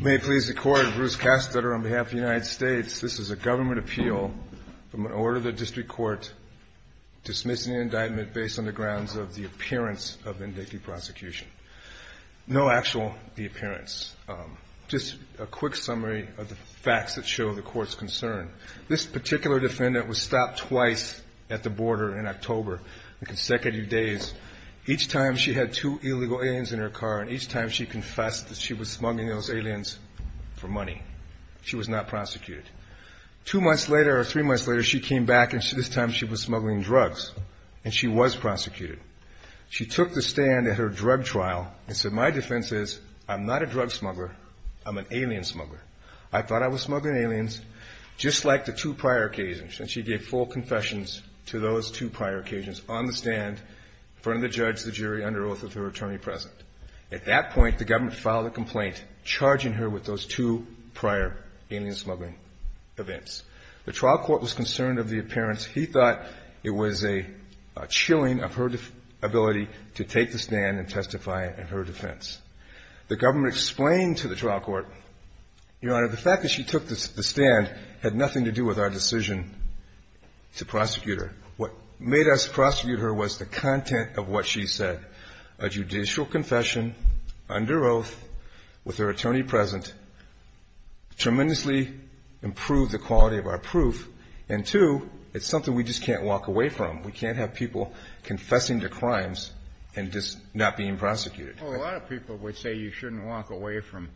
May it please the Court, Bruce Kastetter on behalf of the United States. This is a government appeal from an order of the District Court dismissing the indictment based on the grounds of the appearance of indictee prosecution. No actual appearance, just a quick summary of the facts that show the Court's concern. This particular defendant was stopped twice at the border in October, consecutive days. Each time she had two illegal aliens in her car and each time she confessed that she was smuggling those aliens for money. She was not prosecuted. Two months later or three months later she came back and this time she was smuggling drugs and she was prosecuted. She took the stand at her drug trial and said my defense is I'm not a drug smuggler, I'm an alien smuggler. I thought I was smuggling aliens, just like the two prior occasions. And she gave full confessions to those two prior occasions on the stand in front of the judge, the jury, under oath of her attorney present. At that point the government filed a complaint charging her with those two prior alien smuggling events. The trial court was concerned of the appearance. He thought it was a chilling of her ability to take the stand and testify in her defense. The government explained to the trial court, Your Honor, the fact that she took the stand had nothing to do with our decision to prosecute her. What made us prosecute her was the content of what she said. A judicial confession under oath with her attorney present tremendously improved the quality of our proof and two, it's something we just can't walk away from. We can't have people confessing to crimes and just not being prosecuted. A lot of people would say you shouldn't walk away from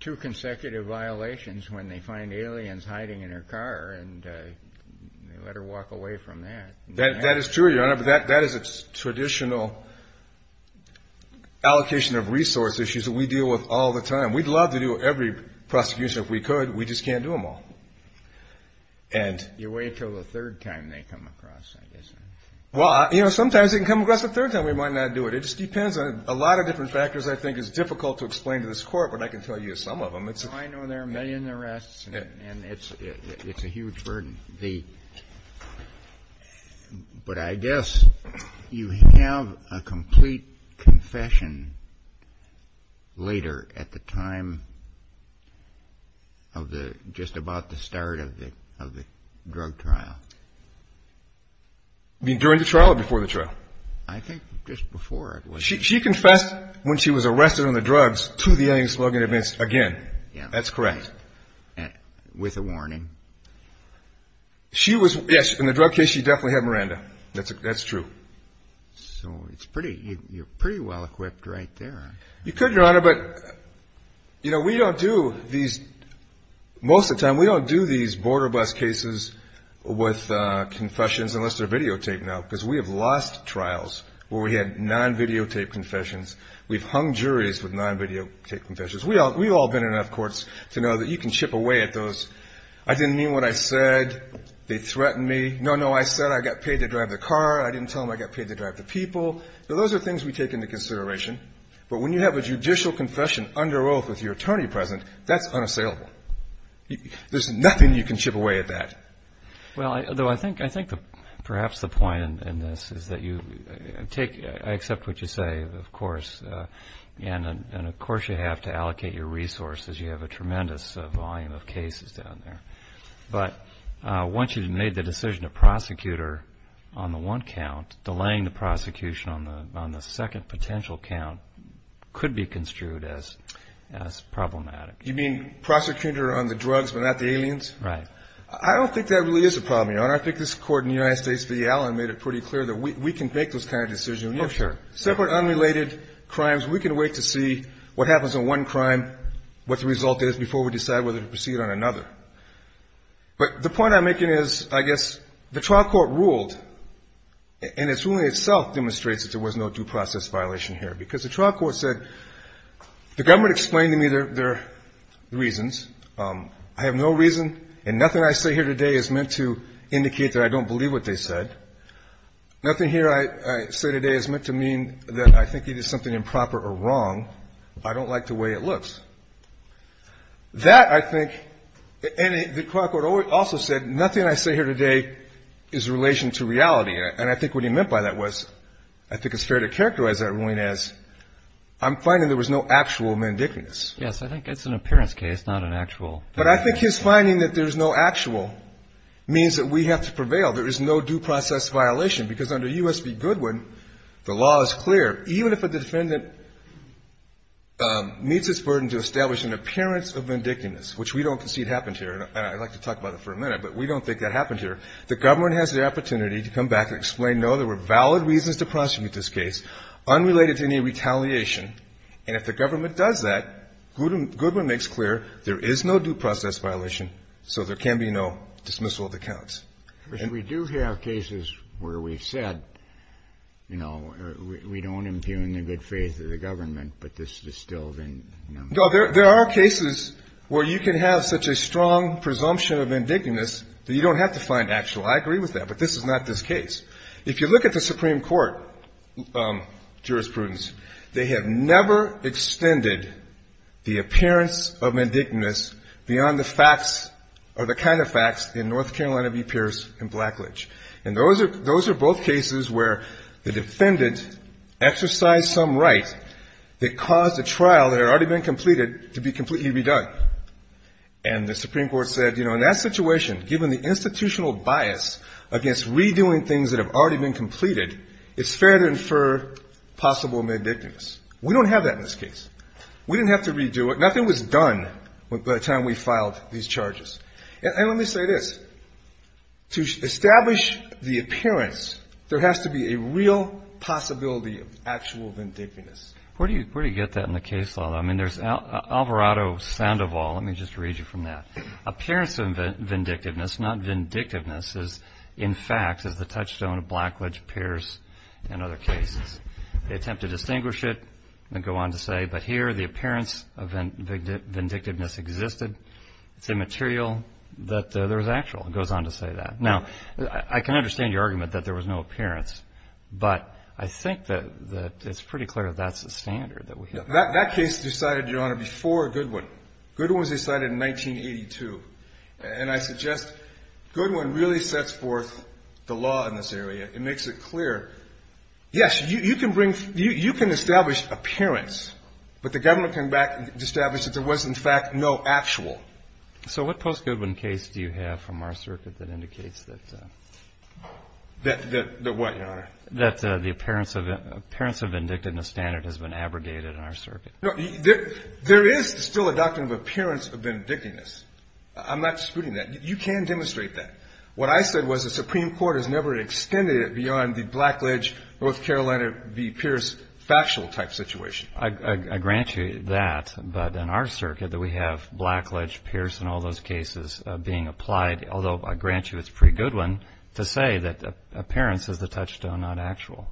two consecutive violations when they find aliens hiding in her car and let her walk away from that. That is true, Your Honor, but that is a traditional allocation of resource issues that we deal with all the time. We'd love to do every prosecution if we could, we just can't do them all. You wait until the third time they come across, I guess. Sometimes they can come across the third time, we might not do it. It just depends on a lot of different factors I think is difficult to explain to this court, but I can tell you some of them. I know there are a million arrests and it's a huge burden, but I guess you have a complete confession later at the time of just about the start of the drug trial. During the trial or before the trial? I think just before it was. She confessed when she was arrested on the drugs to the alien smuggling events again. That's correct. With a warning? She was, yes, in the drug case she definitely had Miranda. That's true. So you're pretty well equipped right there. You could, Your Honor, but we don't do these, most of the time we don't do these border bus cases with confessions unless they're videotaped now because we have lost trials where we had non-videotaped confessions. We've hung juries with non-videotaped confessions. We've all been in enough courts to know that you can chip away at those, I didn't mean what I said, they threatened me. No, no, I said I got paid to drive the car. I didn't tell them I got paid to drive the people. Those are things we take into consideration, but when you have a judicial confession under oath with your attorney present, that's unassailable. There's nothing you can chip away at that. Well, I think perhaps the point in this is that you take, I accept what you say, of course, and of course you have to allocate your resources. You have a tremendous volume of cases down there. But once you've made the decision to prosecute her on the one count, delaying the prosecution on the second potential count could be construed as problematic. You mean prosecute her on the drugs but not the aliens? Right. I don't think that really is a problem, Your Honor. I think this Court in the United States v. Allen made it pretty clear that we can make those kind of decisions. Oh, sure. Separate, unrelated crimes. We can wait to see what happens on one crime, what the result is, before we decide whether to proceed on another. But the point I'm making is, I guess, the trial court ruled, and its ruling itself demonstrates that there was no due process violation here, because the trial court said, the government explained to me their reasons. I have no reason, and nothing I say here today is meant to indicate that I don't believe what they said. Nothing here I say today is meant to mean that I think it is something improper or wrong. I don't like the way it looks. That, I think, and the trial court also said, nothing I say here today is in relation to reality. And I think what he meant by that was, I think it's fair to characterize that ruling as, I'm finding there was no actual mendicantness. Yes. I think it's an appearance case, not an actual. But I think his finding that there's no actual means that we have to prevail. There is no due process violation, because under U.S. v. Goodwin, the law is clear. Even if a defendant meets its burden to establish an appearance of mendicantness, which we don't concede happened here, and I'd like to talk about it for a minute, but we don't think that happened here, the government has the opportunity to come back and explain, no, there were valid reasons to prosecute this case, unrelated to any retaliation, and if the government does that, Goodwin makes clear there is no due process violation, so there can be no dismissal of the counts. We do have cases where we've said, you know, we don't impugn the good faith of the government, but this is still, you know. No, there are cases where you can have such a strong presumption of indignance that you don't have to find actual. I agree with that, but this is not this case. If you look at the Supreme Court jurisprudence, they have never extended the appearance of mendicantness beyond the facts or the kind of facts in North Carolina v. Pierce and Blackledge. And those are both cases where the defendant exercised some right that caused a trial that had already been completed to be completely done. And the Supreme Court said, you know, in that situation, given the institutional bias against redoing things that have already been completed, it's fair to infer possible mendicantness. We don't have that in this case. We didn't have to redo it. Nothing was done by the time we filed these charges. And let me say this. To establish the appearance, there has to be a real possibility of actual mendicantness. Where do you get that in the case law? I mean, there's Alvarado, Sandoval. Let me just read you from that. Appearance of vindictiveness, not vindictiveness, is in fact, is the touchstone of Blackledge, Pierce, and other cases. They attempt to distinguish it and go on to say, but here the appearance of vindictiveness existed. It's immaterial that there was actual. It goes on to say that. Now, I can understand your argument that there was no appearance, but I think that it's pretty clear that that's the standard that we have. That case decided, Your Honor, before Goodwin. Goodwin was decided in 1982. And I suggest Goodwin really sets forth the law in this area. It makes it clear, yes, you can bring, you can establish appearance, but the government came back and established that there was, in fact, no actual. So what post-Goodwin case do you have from our circuit that indicates that? That what, Your Honor? That the appearance of vindictiveness standard has been abrogated in our circuit. No, there is still a doctrine of appearance of vindictiveness. I'm not disputing that. You can demonstrate that. What I said was the Supreme Court has never extended it beyond the Blackledge, North Carolina v. Pierce factual type situation. I grant you that, but in our circuit that we have Blackledge, Pierce, and all those cases being applied, although I grant you it's pre-Goodwin, to say that appearance is the touchstone, not actual.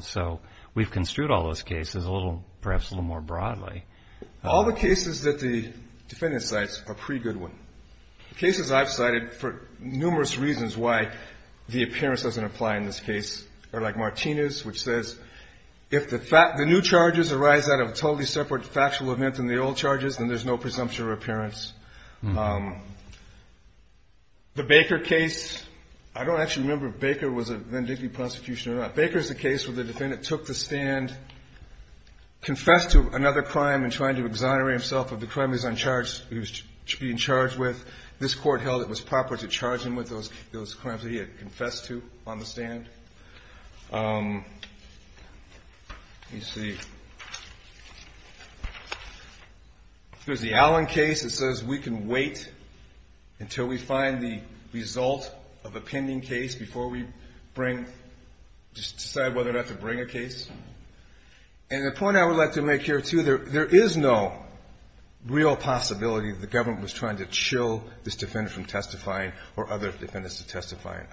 So we've construed all those cases a little, perhaps a little more broadly. All the cases that the defendant cites are pre-Goodwin. Cases I've cited for numerous reasons why the appearance doesn't apply in this case are like Martinez, which says, if the new charges arise out of a totally separate factual event than the old charges, then there's no presumption of appearance. The Baker case, I don't actually remember if Baker was a vindictive prosecution or not. Baker is the case where the defendant took the stand, confessed to another crime in trying to exonerate himself of the crime he was being charged with. This court held it was proper to charge him with those crimes that he had confessed to on the stand. Let me see. There's the Allen case that says we can wait until we find the result of a pending case before we bring, decide whether or not to bring a case. And the point I would like to make here, too, there is no real possibility that the government was trying to chill this defendant from testifying or other defendants from testifying.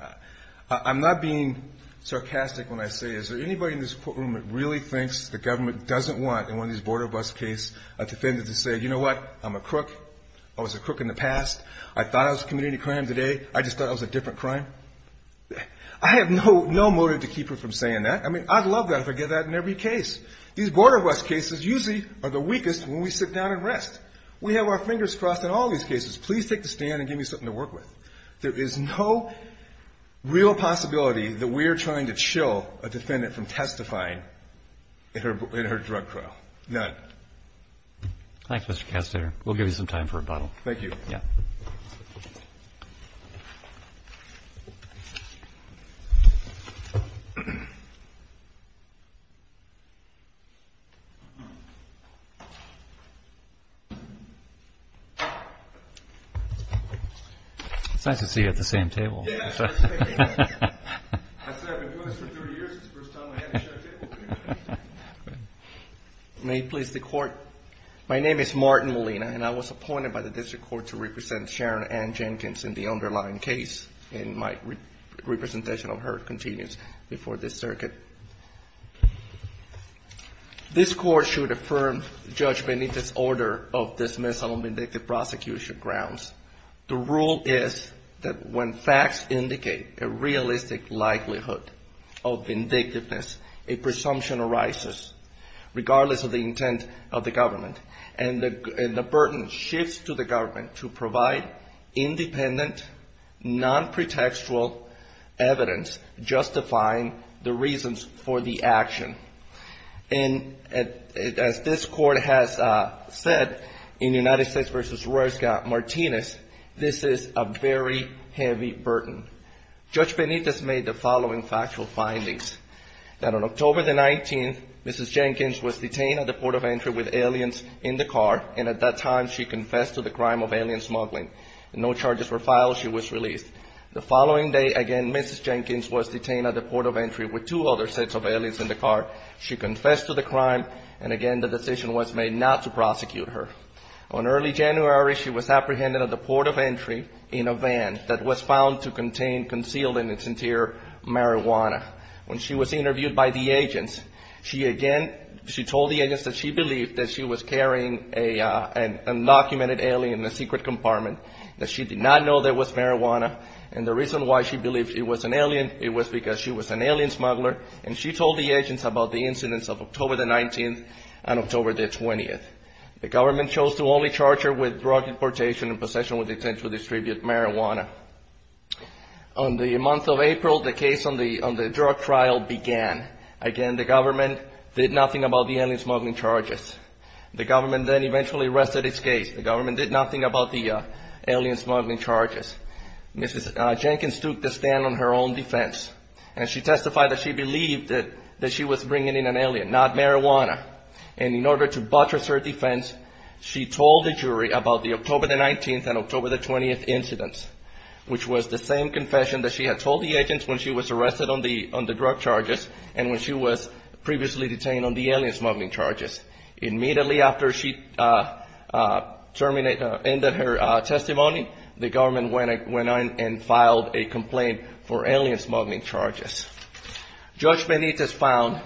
I'm not being sarcastic when I say, is there anybody in this courtroom that really thinks the government doesn't want, in one of these border bus case, a defendant to say, you know what, I'm a crook. I was a crook in the past. I thought I was committing a crime today. I just thought it was a different crime. I have no motive to keep her from saying that. I mean, I'd love that if I get that in every case. These border bus cases usually are the weakest when we sit down and rest. We have our fingers crossed in all these cases. Please take the stand and give me something to work with. There is no real possibility that we're trying to chill a defendant from testifying in her drug trial. None. Roberts. Thanks, Mr. Castaner. We'll give you some time for rebuttal. Thank you. Yeah. It's nice to see you at the same table. May it please the Court. My name is Martin Molina, and I was appointed by the District Court to represent Sharon Ann Jenkins in the underlying case, and my representation of her continues before this circuit. This Court should affirm the judgment in this order of dismissal on vindictive prosecution grounds. The rule is that when facts indicate a realistic likelihood of vindictiveness, a presumption arises, regardless of the intent of the government, and the burden shifts to the government to provide independent, non-pretextual evidence justifying the reasons for the action. And as this Court has said in United States v. Royska-Martinez, this is a very heavy burden. Judge Benitez made the following factual findings, that on October the 19th, Mrs. Jenkins was detained at the port of entry with aliens in the car, and at that time she confessed to the crime of alien smuggling. No charges were filed. She was released. The following day again, Mrs. Jenkins was detained at the port of entry with aliens in the car. She confessed to the crime, and again the decision was made not to prosecute her. On early January, she was apprehended at the port of entry in a van that was found to contain, concealed in its interior marijuana. When she was interviewed by the agents, she again, she told the agents that she believed that she was carrying an undocumented alien in a secret warehouse, and she told the agents about the incidents of October the 19th and October the 20th. The government chose to only charge her with drug importation and possession with intent to distribute marijuana. On the month of April, the case on the drug trial began. Again, the government did nothing about the alien smuggling charges. The government then eventually rested its case. The government did nothing about the alien smuggling charges. Mrs. Jenkins took the stand on her own defense, and she testified that she believed that she was bringing in an alien, not marijuana. And in order to buttress her defense, she told the jury about the October the 19th and October the 20th incidents, which was the same confession that she had told the agents when she was arrested on the drug charges and when she was arrested on the drug charges and when she ended her testimony, the government went on and filed a complaint for alien smuggling charges. Judge Benitez found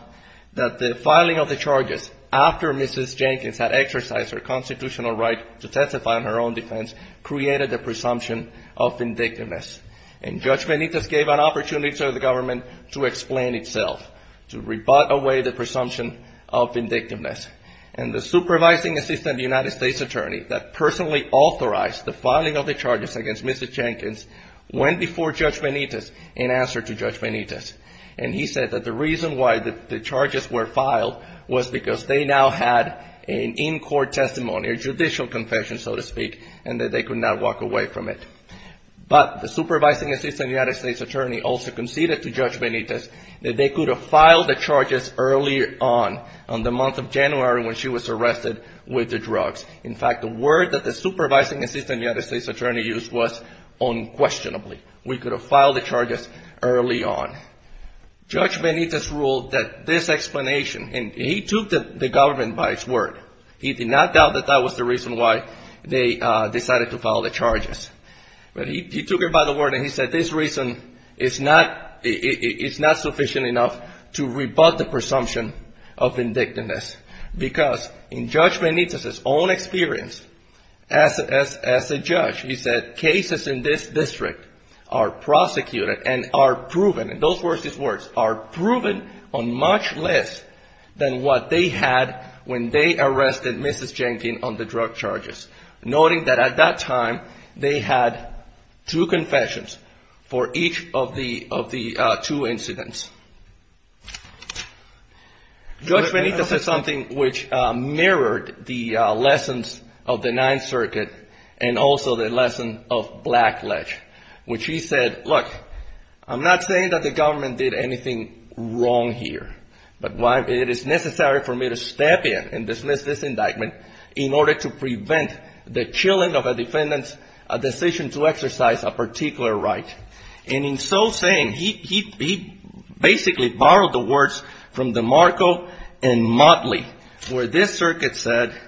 that the filing of the charges after Mrs. Jenkins had exercised her constitutional right to testify on her own defense created a presumption of vindictiveness, and Judge Benitez gave an opportunity to the government to explain itself, to rebut away the charges. The supervising assistant United States attorney that personally authorized the filing of the charges against Mrs. Jenkins went before Judge Benitez in answer to Judge Benitez, and he said that the reason why the charges were filed was because they now had an in-court testimony, a judicial confession, so to speak, and that they could not walk away from it. But the supervising assistant United States attorney also conceded to have been arrested with the drugs. In fact, the word that the supervising assistant United States attorney used was unquestionably. We could have filed the charges early on. Judge Benitez ruled that this explanation, and he took the government by its word. He did not doubt that that was the reason why they decided to file the charges. But he took it by the word and he said this reason is not sufficient enough to rebut the presumption of vindictiveness, because in Judge Benitez's own experience as a judge, he said cases in this district are prosecuted and are proven, in those words, are proven on much less than what they had when they arrested Mrs. Jenkins on the drug charges, noting that at that time they had two confessions for each of the two incidents. Judge Benitez said something which mirrored the lessons of the Ninth Circuit and also the lesson of Blackledge, which he said, look, I'm not saying that the government did anything wrong here, but it is necessary for me to step in and dismiss this indictment in order to prevent the chilling of a defendant's decision to exercise a particular right. And in so saying, he basically borrowed the words from DeMarco and Motley, where this circuit said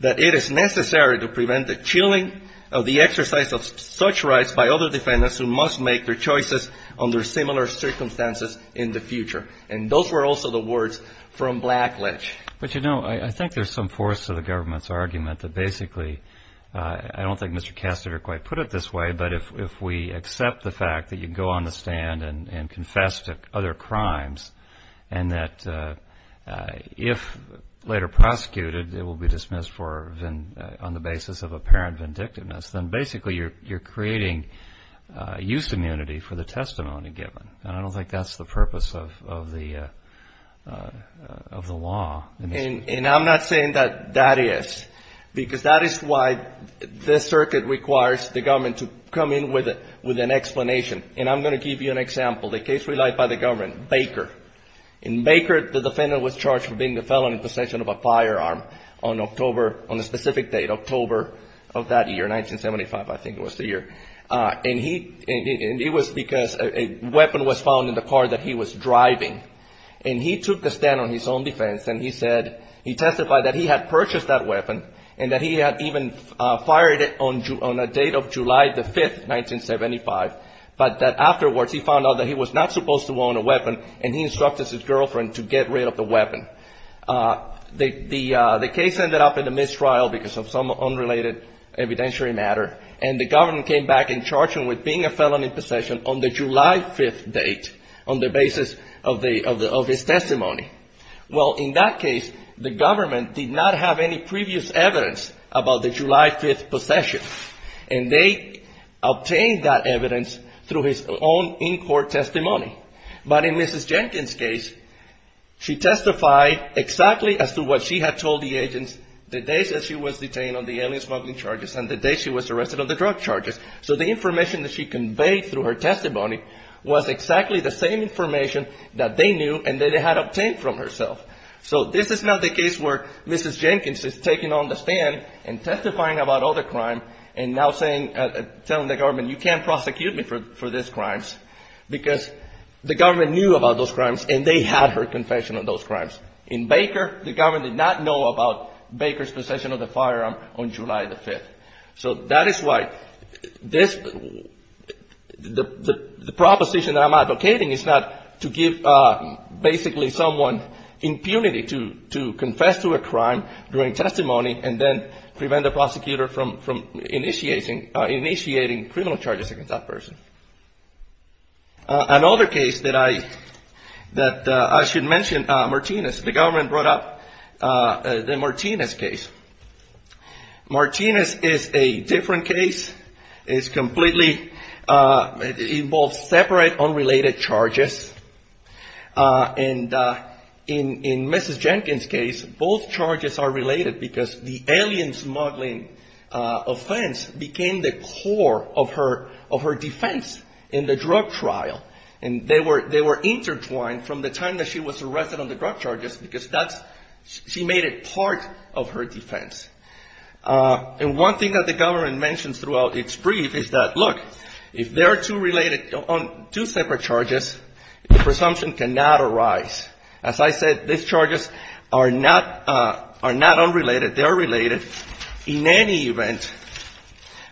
that it is necessary to prevent the chilling of the exercise of such rights by other defendants who must make their choices under similar circumstances in the future. And those were also the words from Blackledge. But, you know, I think there's some force to the government's argument that basically, I don't think Mr. Kastner quite put it this way, but if we accept the fact that you go on the stand and confess to other crimes and that if later prosecuted, it will be dismissed on the basis of apparent vindictiveness, then basically you're creating used immunity for the testimony given. And I don't think that's the purpose of the law. And I'm not saying that that is, because that is why this circuit requires the government to come in with an explanation. And I'm going to give you an example. The case relied by the government, Baker. In Baker, the defendant was charged for being the felon in possession of a firearm on October, on a specific date, October of that year, 1975, I think it was the year. And he, and it was because a weapon was found in the car that he was driving. And he took the stand on his own defense and he said, he testified that he had purchased that weapon and that he had even fired it on a date of July the 5th, 1975, but that afterwards he found out that he was not supposed to own a weapon and he instructed his defense to stop the mistrial because of some unrelated evidentiary matter, and the government came back and charged him with being a felon in possession on the July 5th date on the basis of his testimony. Well, in that case, the government did not have any previous evidence about the July 5th possession, and they obtained that evidence through his own in-court testimony. But in Mrs. Jenkins' case, she testified exactly as to what she had told the agents the days that she was detained on the alien-smuggling charges and the days she was arrested on the drug charges. So the information that she conveyed through her testimony was exactly the same information that they knew and that they had obtained from herself. So this is not the case where Mrs. Jenkins is taking on the stand and testifying about other crimes and now saying, telling the government, you can't prosecute me for these crimes, because the government knew about those crimes and they had her confession of those crimes. In Baker, the government did not know about Baker's possession of the firearm on July 5th. So that is why this, the proposition that I'm advocating is not to give basically someone impunity to confess to a crime during testimony and then prevent the prosecutor from initiating criminal charges against that person. Another case that I should mention, Martinez. The government brought up the Martinez case. Martinez is a different case. It's completely, it involves separate unrelated charges. And in Mrs. Jenkins' case, both charges are related because the alien-smuggling offense became the core of her defense in the drug trial. And they were intertwined from the time that she was arrested on the drug charges because that's, she made it part of her defense. And one thing that the government mentions throughout its brief is that, look, if they're two related, two separate charges, the presumption cannot arise. As I said, these charges are not related.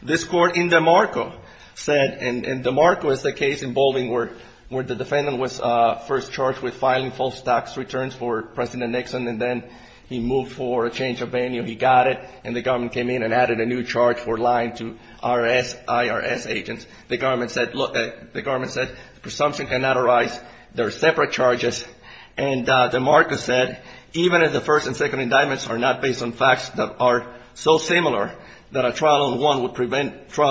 This court in DeMarco said, and DeMarco is the case involving where the defendant was first charged with filing false tax returns for President Nixon, and then he moved for a change of venue. He got it, and the government came in and added a new charge for lying to IRS agents. The government said, look, the government said, presumption cannot arise. They're separate charges. And DeMarco said, even if the two charges are the same, trial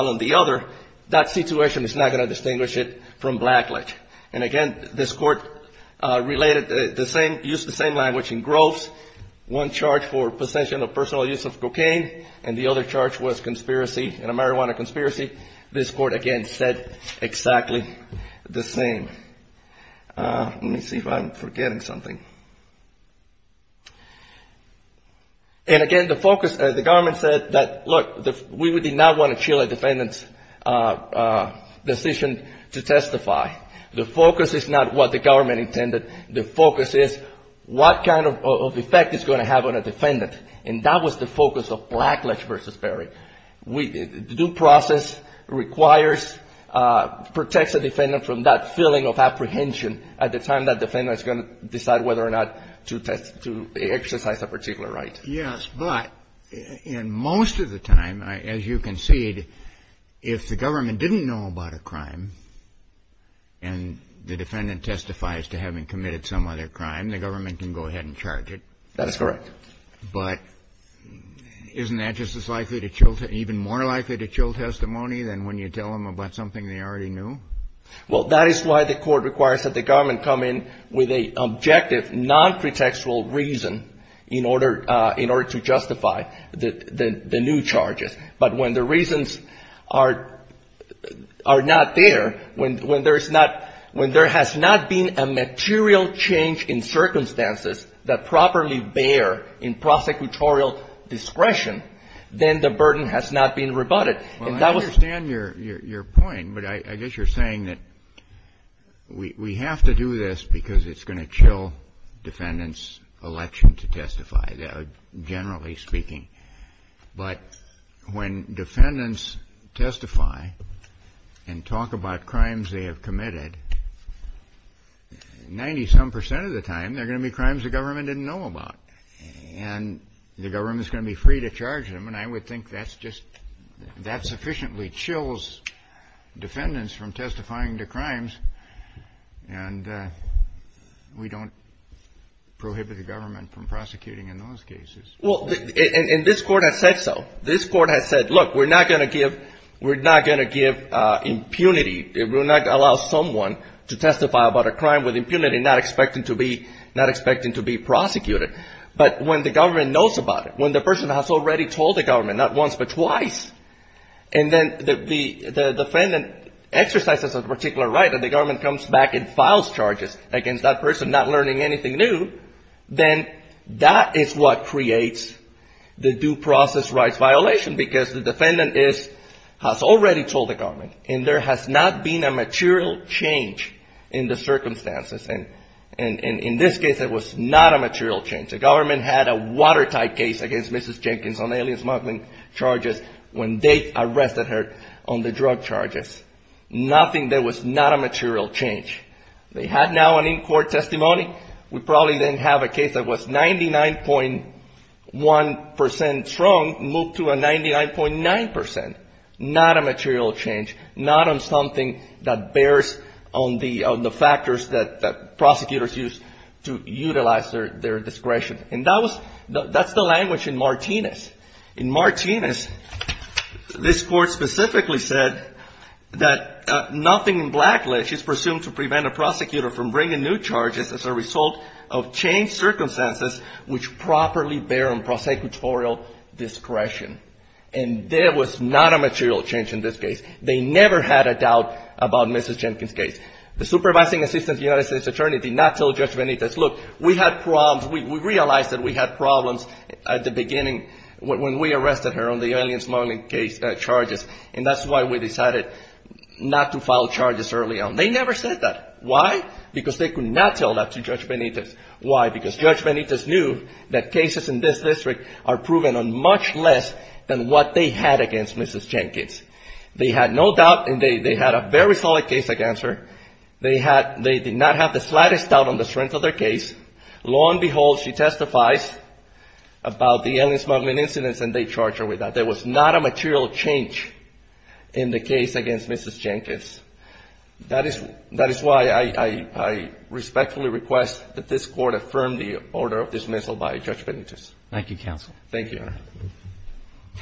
on the other, that situation is not going to distinguish it from blacklash. And again, this court related the same, used the same language in Groves. One charge for possession of personal use of cocaine, and the other charge was conspiracy, a marijuana conspiracy. This court, again, said exactly the same. Let me see if I'm forgetting something. And again, the focus, the government said that, look, we would not want to shield a defendant's decision to testify. The focus is not what the government intended. The focus is what kind of effect it's going to have on a defendant. And that was the focus of blacklash versus burying. The due process requires, protects a defendant from that feeling of apprehension at the time that defendant is going to decide whether or not to test, to exercise a particular right. Yes, but in most of the time, as you concede, if the government didn't know about a crime and the defendant testifies to having committed some other crime, the government can go ahead and charge it. That is correct. But isn't that just as likely to chill, even more likely to chill testimony than when you tell them about something they already knew? Well, that is why the Court requires that the government come in with an objective, nonpretextual reason in order to justify the new charges. But when the reasons are not there, when there is not, when there has not been a material change in circumstances that properly bear in prosecutorial discretion, then the burden has not been rebutted. Well, I understand your point, but I guess you're saying that we have to do this because it's going to chill defendants' election to testify, generally speaking. But when defendants testify and talk about crimes they have committed, 90-some percent of the time they're going to be crimes the government didn't know about, and the government is going to be free to charge them. And I would think that's just, that sufficiently chills defendants from testifying to crimes, and we don't prohibit the government from prosecuting in those cases. Well, and this Court has said so. This Court has said, look, we're not going to give impunity. We're not going to allow someone to testify about a crime with impunity, not expecting to be prosecuted. But when the government knows about it, when the person has already told the government, not once but twice, and then the defendant exercises a particular right and the government comes back and files charges against that person, not learning anything new, then that is what creates the due process rights violation, because the defendant is, has already told the government, and there has not been a material change in the circumstances. And in this case it was not a material change. The government had a watertight case against Mrs. Jenkins on alien smuggling charges when they arrested her on the drug charges. Nothing, there was not a material change. They had now an in-court testimony. We probably didn't have a case that was 99.1 percent strong moved to a 99.9 percent. Not a material change. Not on something that bears on the factors that prosecutors use to utilize their discretion. And that was, that's the language in Martinez. In Martinez, this Court specifically said that nothing in blacklist is presumed to prevent a prosecutor from bringing new charges as a result of changed circumstances which properly bear on prosecutorial discretion. And there was not a material change in this case. They never had a doubt about Mrs. Jenkins' case. The supervising assistant to the United States attorney did not tell Judge Benitez, look, we had problems, we realized that we had problems at the beginning when we arrested her on the alien smuggling charges, and that's why we decided not to file charges early on. They never said that. Why? Because they could not tell that to Judge Benitez. Why? Because Judge Benitez knew that cases in this district are proven on much less than what they had against Mrs. Jenkins. They had no doubt and they had a very solid case against her. They did not have the slightest doubt on the strength of their case. Lo and behold, she testifies about the alien smuggling incidents and they charge her with that. There was not a material change in the case against Mrs. Jenkins. That is why I respectfully request that this Court affirm the order of dismissal by Judge Benitez. Thank you, Counsel. Thank you, Your Honor.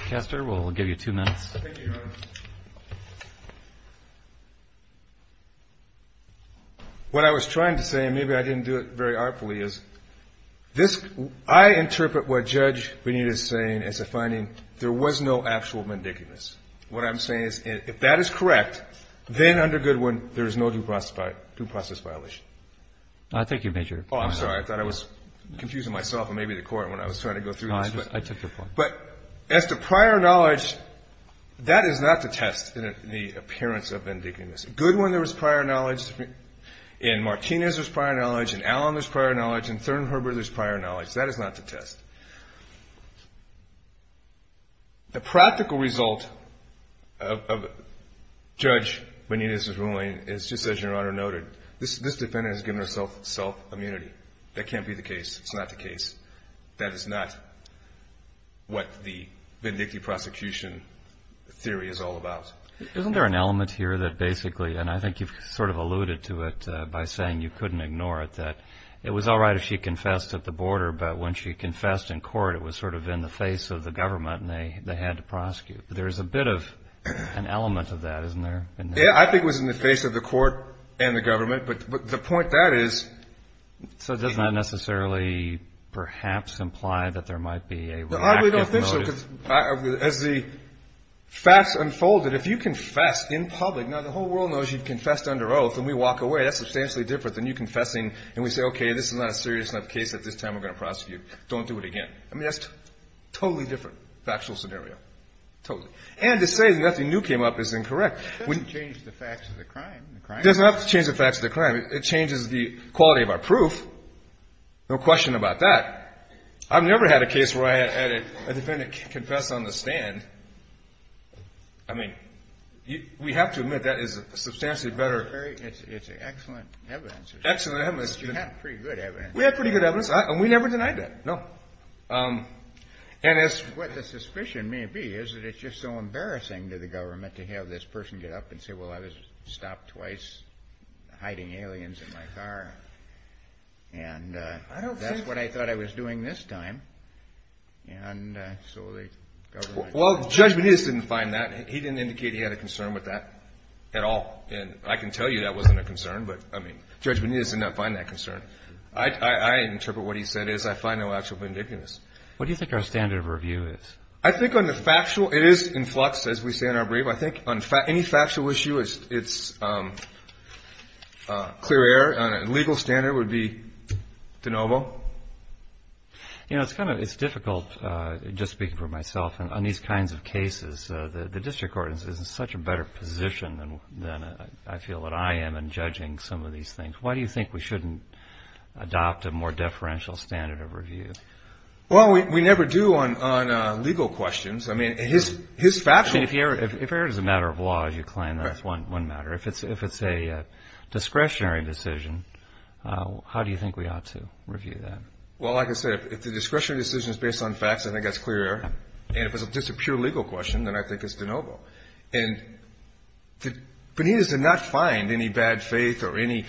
Caster, we'll give you two minutes. Thank you, Your Honor. What I was trying to say, and maybe I didn't do it very artfully, is this, I interpret what Judge Benitez is saying as a finding, there was no actual mendicantness. What I'm saying is if that is correct, then under Goodwin, there is no due process violation. Thank you, Major. Oh, I'm sorry. I thought I was confusing myself and maybe the Court when I was trying to go through this. No, I took your point. But as to prior knowledge, that is not to test the appearance of mendicantness. In Goodwin, there was prior knowledge. In Martinez, there was prior knowledge. In Allen, there was prior knowledge. In Third and Herbert, there was prior knowledge. That is not to test. The practical result of Judge Benitez's ruling is just as Your Honor noted. This defendant has given herself self-immunity. That can't be the case. It's not the case. That is not what the vindictive prosecution theory is all about. Isn't there an element here that basically, and I think you've sort of alluded to it by saying you couldn't ignore it, that it was all right if she confessed at the border, but when she confessed in court, it was sort of in the face of the government and they had to prosecute. There's a bit of an element of that, isn't there? Yeah, I think it was in the face of the court and the government, but the point that is. So does that necessarily perhaps imply that there might be a reactive motive? No, I really don't think so, because as the facts unfolded, if you confess in public, now the whole world knows you've confessed under oath and we walk away, that's substantially different than you confessing and we say, okay, this is not a serious enough case that this time we're going to prosecute. Don't do it again. I mean, that's a totally different factual scenario, totally. And to say nothing new came up is incorrect. It doesn't have to change the facts of the crime. It changes the quality of our proof, no question about that. I've never had a case where I had a defendant confess on the stand. I mean, we have to admit that is a substantially better. It's excellent evidence. Excellent evidence. You have pretty good evidence. We have pretty good evidence and we never denied that, no. What the suspicion may be is that it's just so embarrassing to the government to have this person get up and say, well, I was stopped twice hiding aliens in my car. And that's what I thought I was doing this time. Well, Judge Benitez didn't find that. He didn't indicate he had a concern with that at all. And I can tell you that wasn't a concern, but, I mean, Judge Benitez did not find that concern. I interpret what he said as I find no actual vindictiveness. What do you think our standard of review is? I think on the factual, it is in flux, as we say in our brief. I think on any factual issue, it's clear error. On a legal standard, it would be de novo. You know, it's difficult, just speaking for myself, on these kinds of cases. The district court is in such a better position than I feel that I am in judging some of these things. Why do you think we shouldn't adopt a more deferential standard of review? Well, we never do on legal questions. I mean, his factual – If error is a matter of law, as you claim, that's one matter. If it's a discretionary decision, how do you think we ought to review that? Well, like I said, if the discretionary decision is based on facts, I think that's clear error. And if it's just a pure legal question, then I think it's de novo. And Benitez did not find any bad faith or any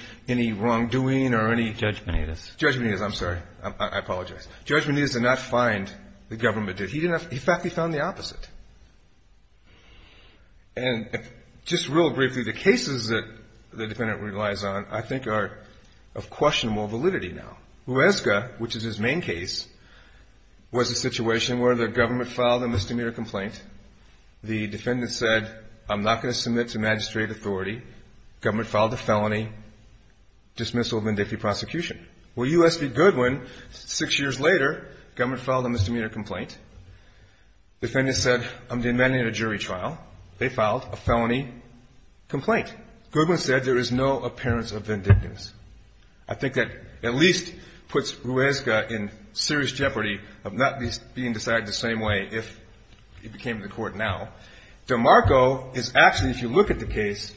wrongdoing or any – Judge Benitez. Judge Benitez. I'm sorry. I apologize. Judge Benitez did not find the government did. He didn't – in fact, he found the opposite. And just real briefly, the cases that the defendant relies on I think are of questionable validity now. Huesca, which is his main case, was a situation where the government filed a misdemeanor complaint. The defendant said, I'm not going to submit to magistrate authority. Government filed a felony dismissal of vindictive prosecution. Well, U.S. v. Goodwin, six years later, government filed a misdemeanor complaint. Defendant said, I'm demanding a jury trial. They filed a felony complaint. Goodwin said there is no appearance of vindictiveness. I think that at least puts Huesca in serious jeopardy of not being decided the same way if he became the court now. DeMarco is actually, if you look at the case,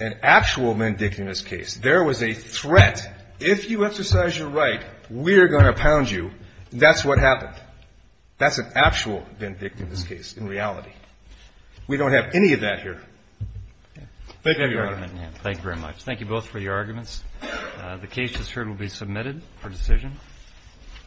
an actual vindictiveness case. There was a threat. If you exercise your right, we're going to pound you. That's what happened. That's an actual vindictiveness case in reality. We don't have any of that here. Thank you, Your Honor. Thank you very much. Thank you both for your arguments. The case just heard will be submitted for decision.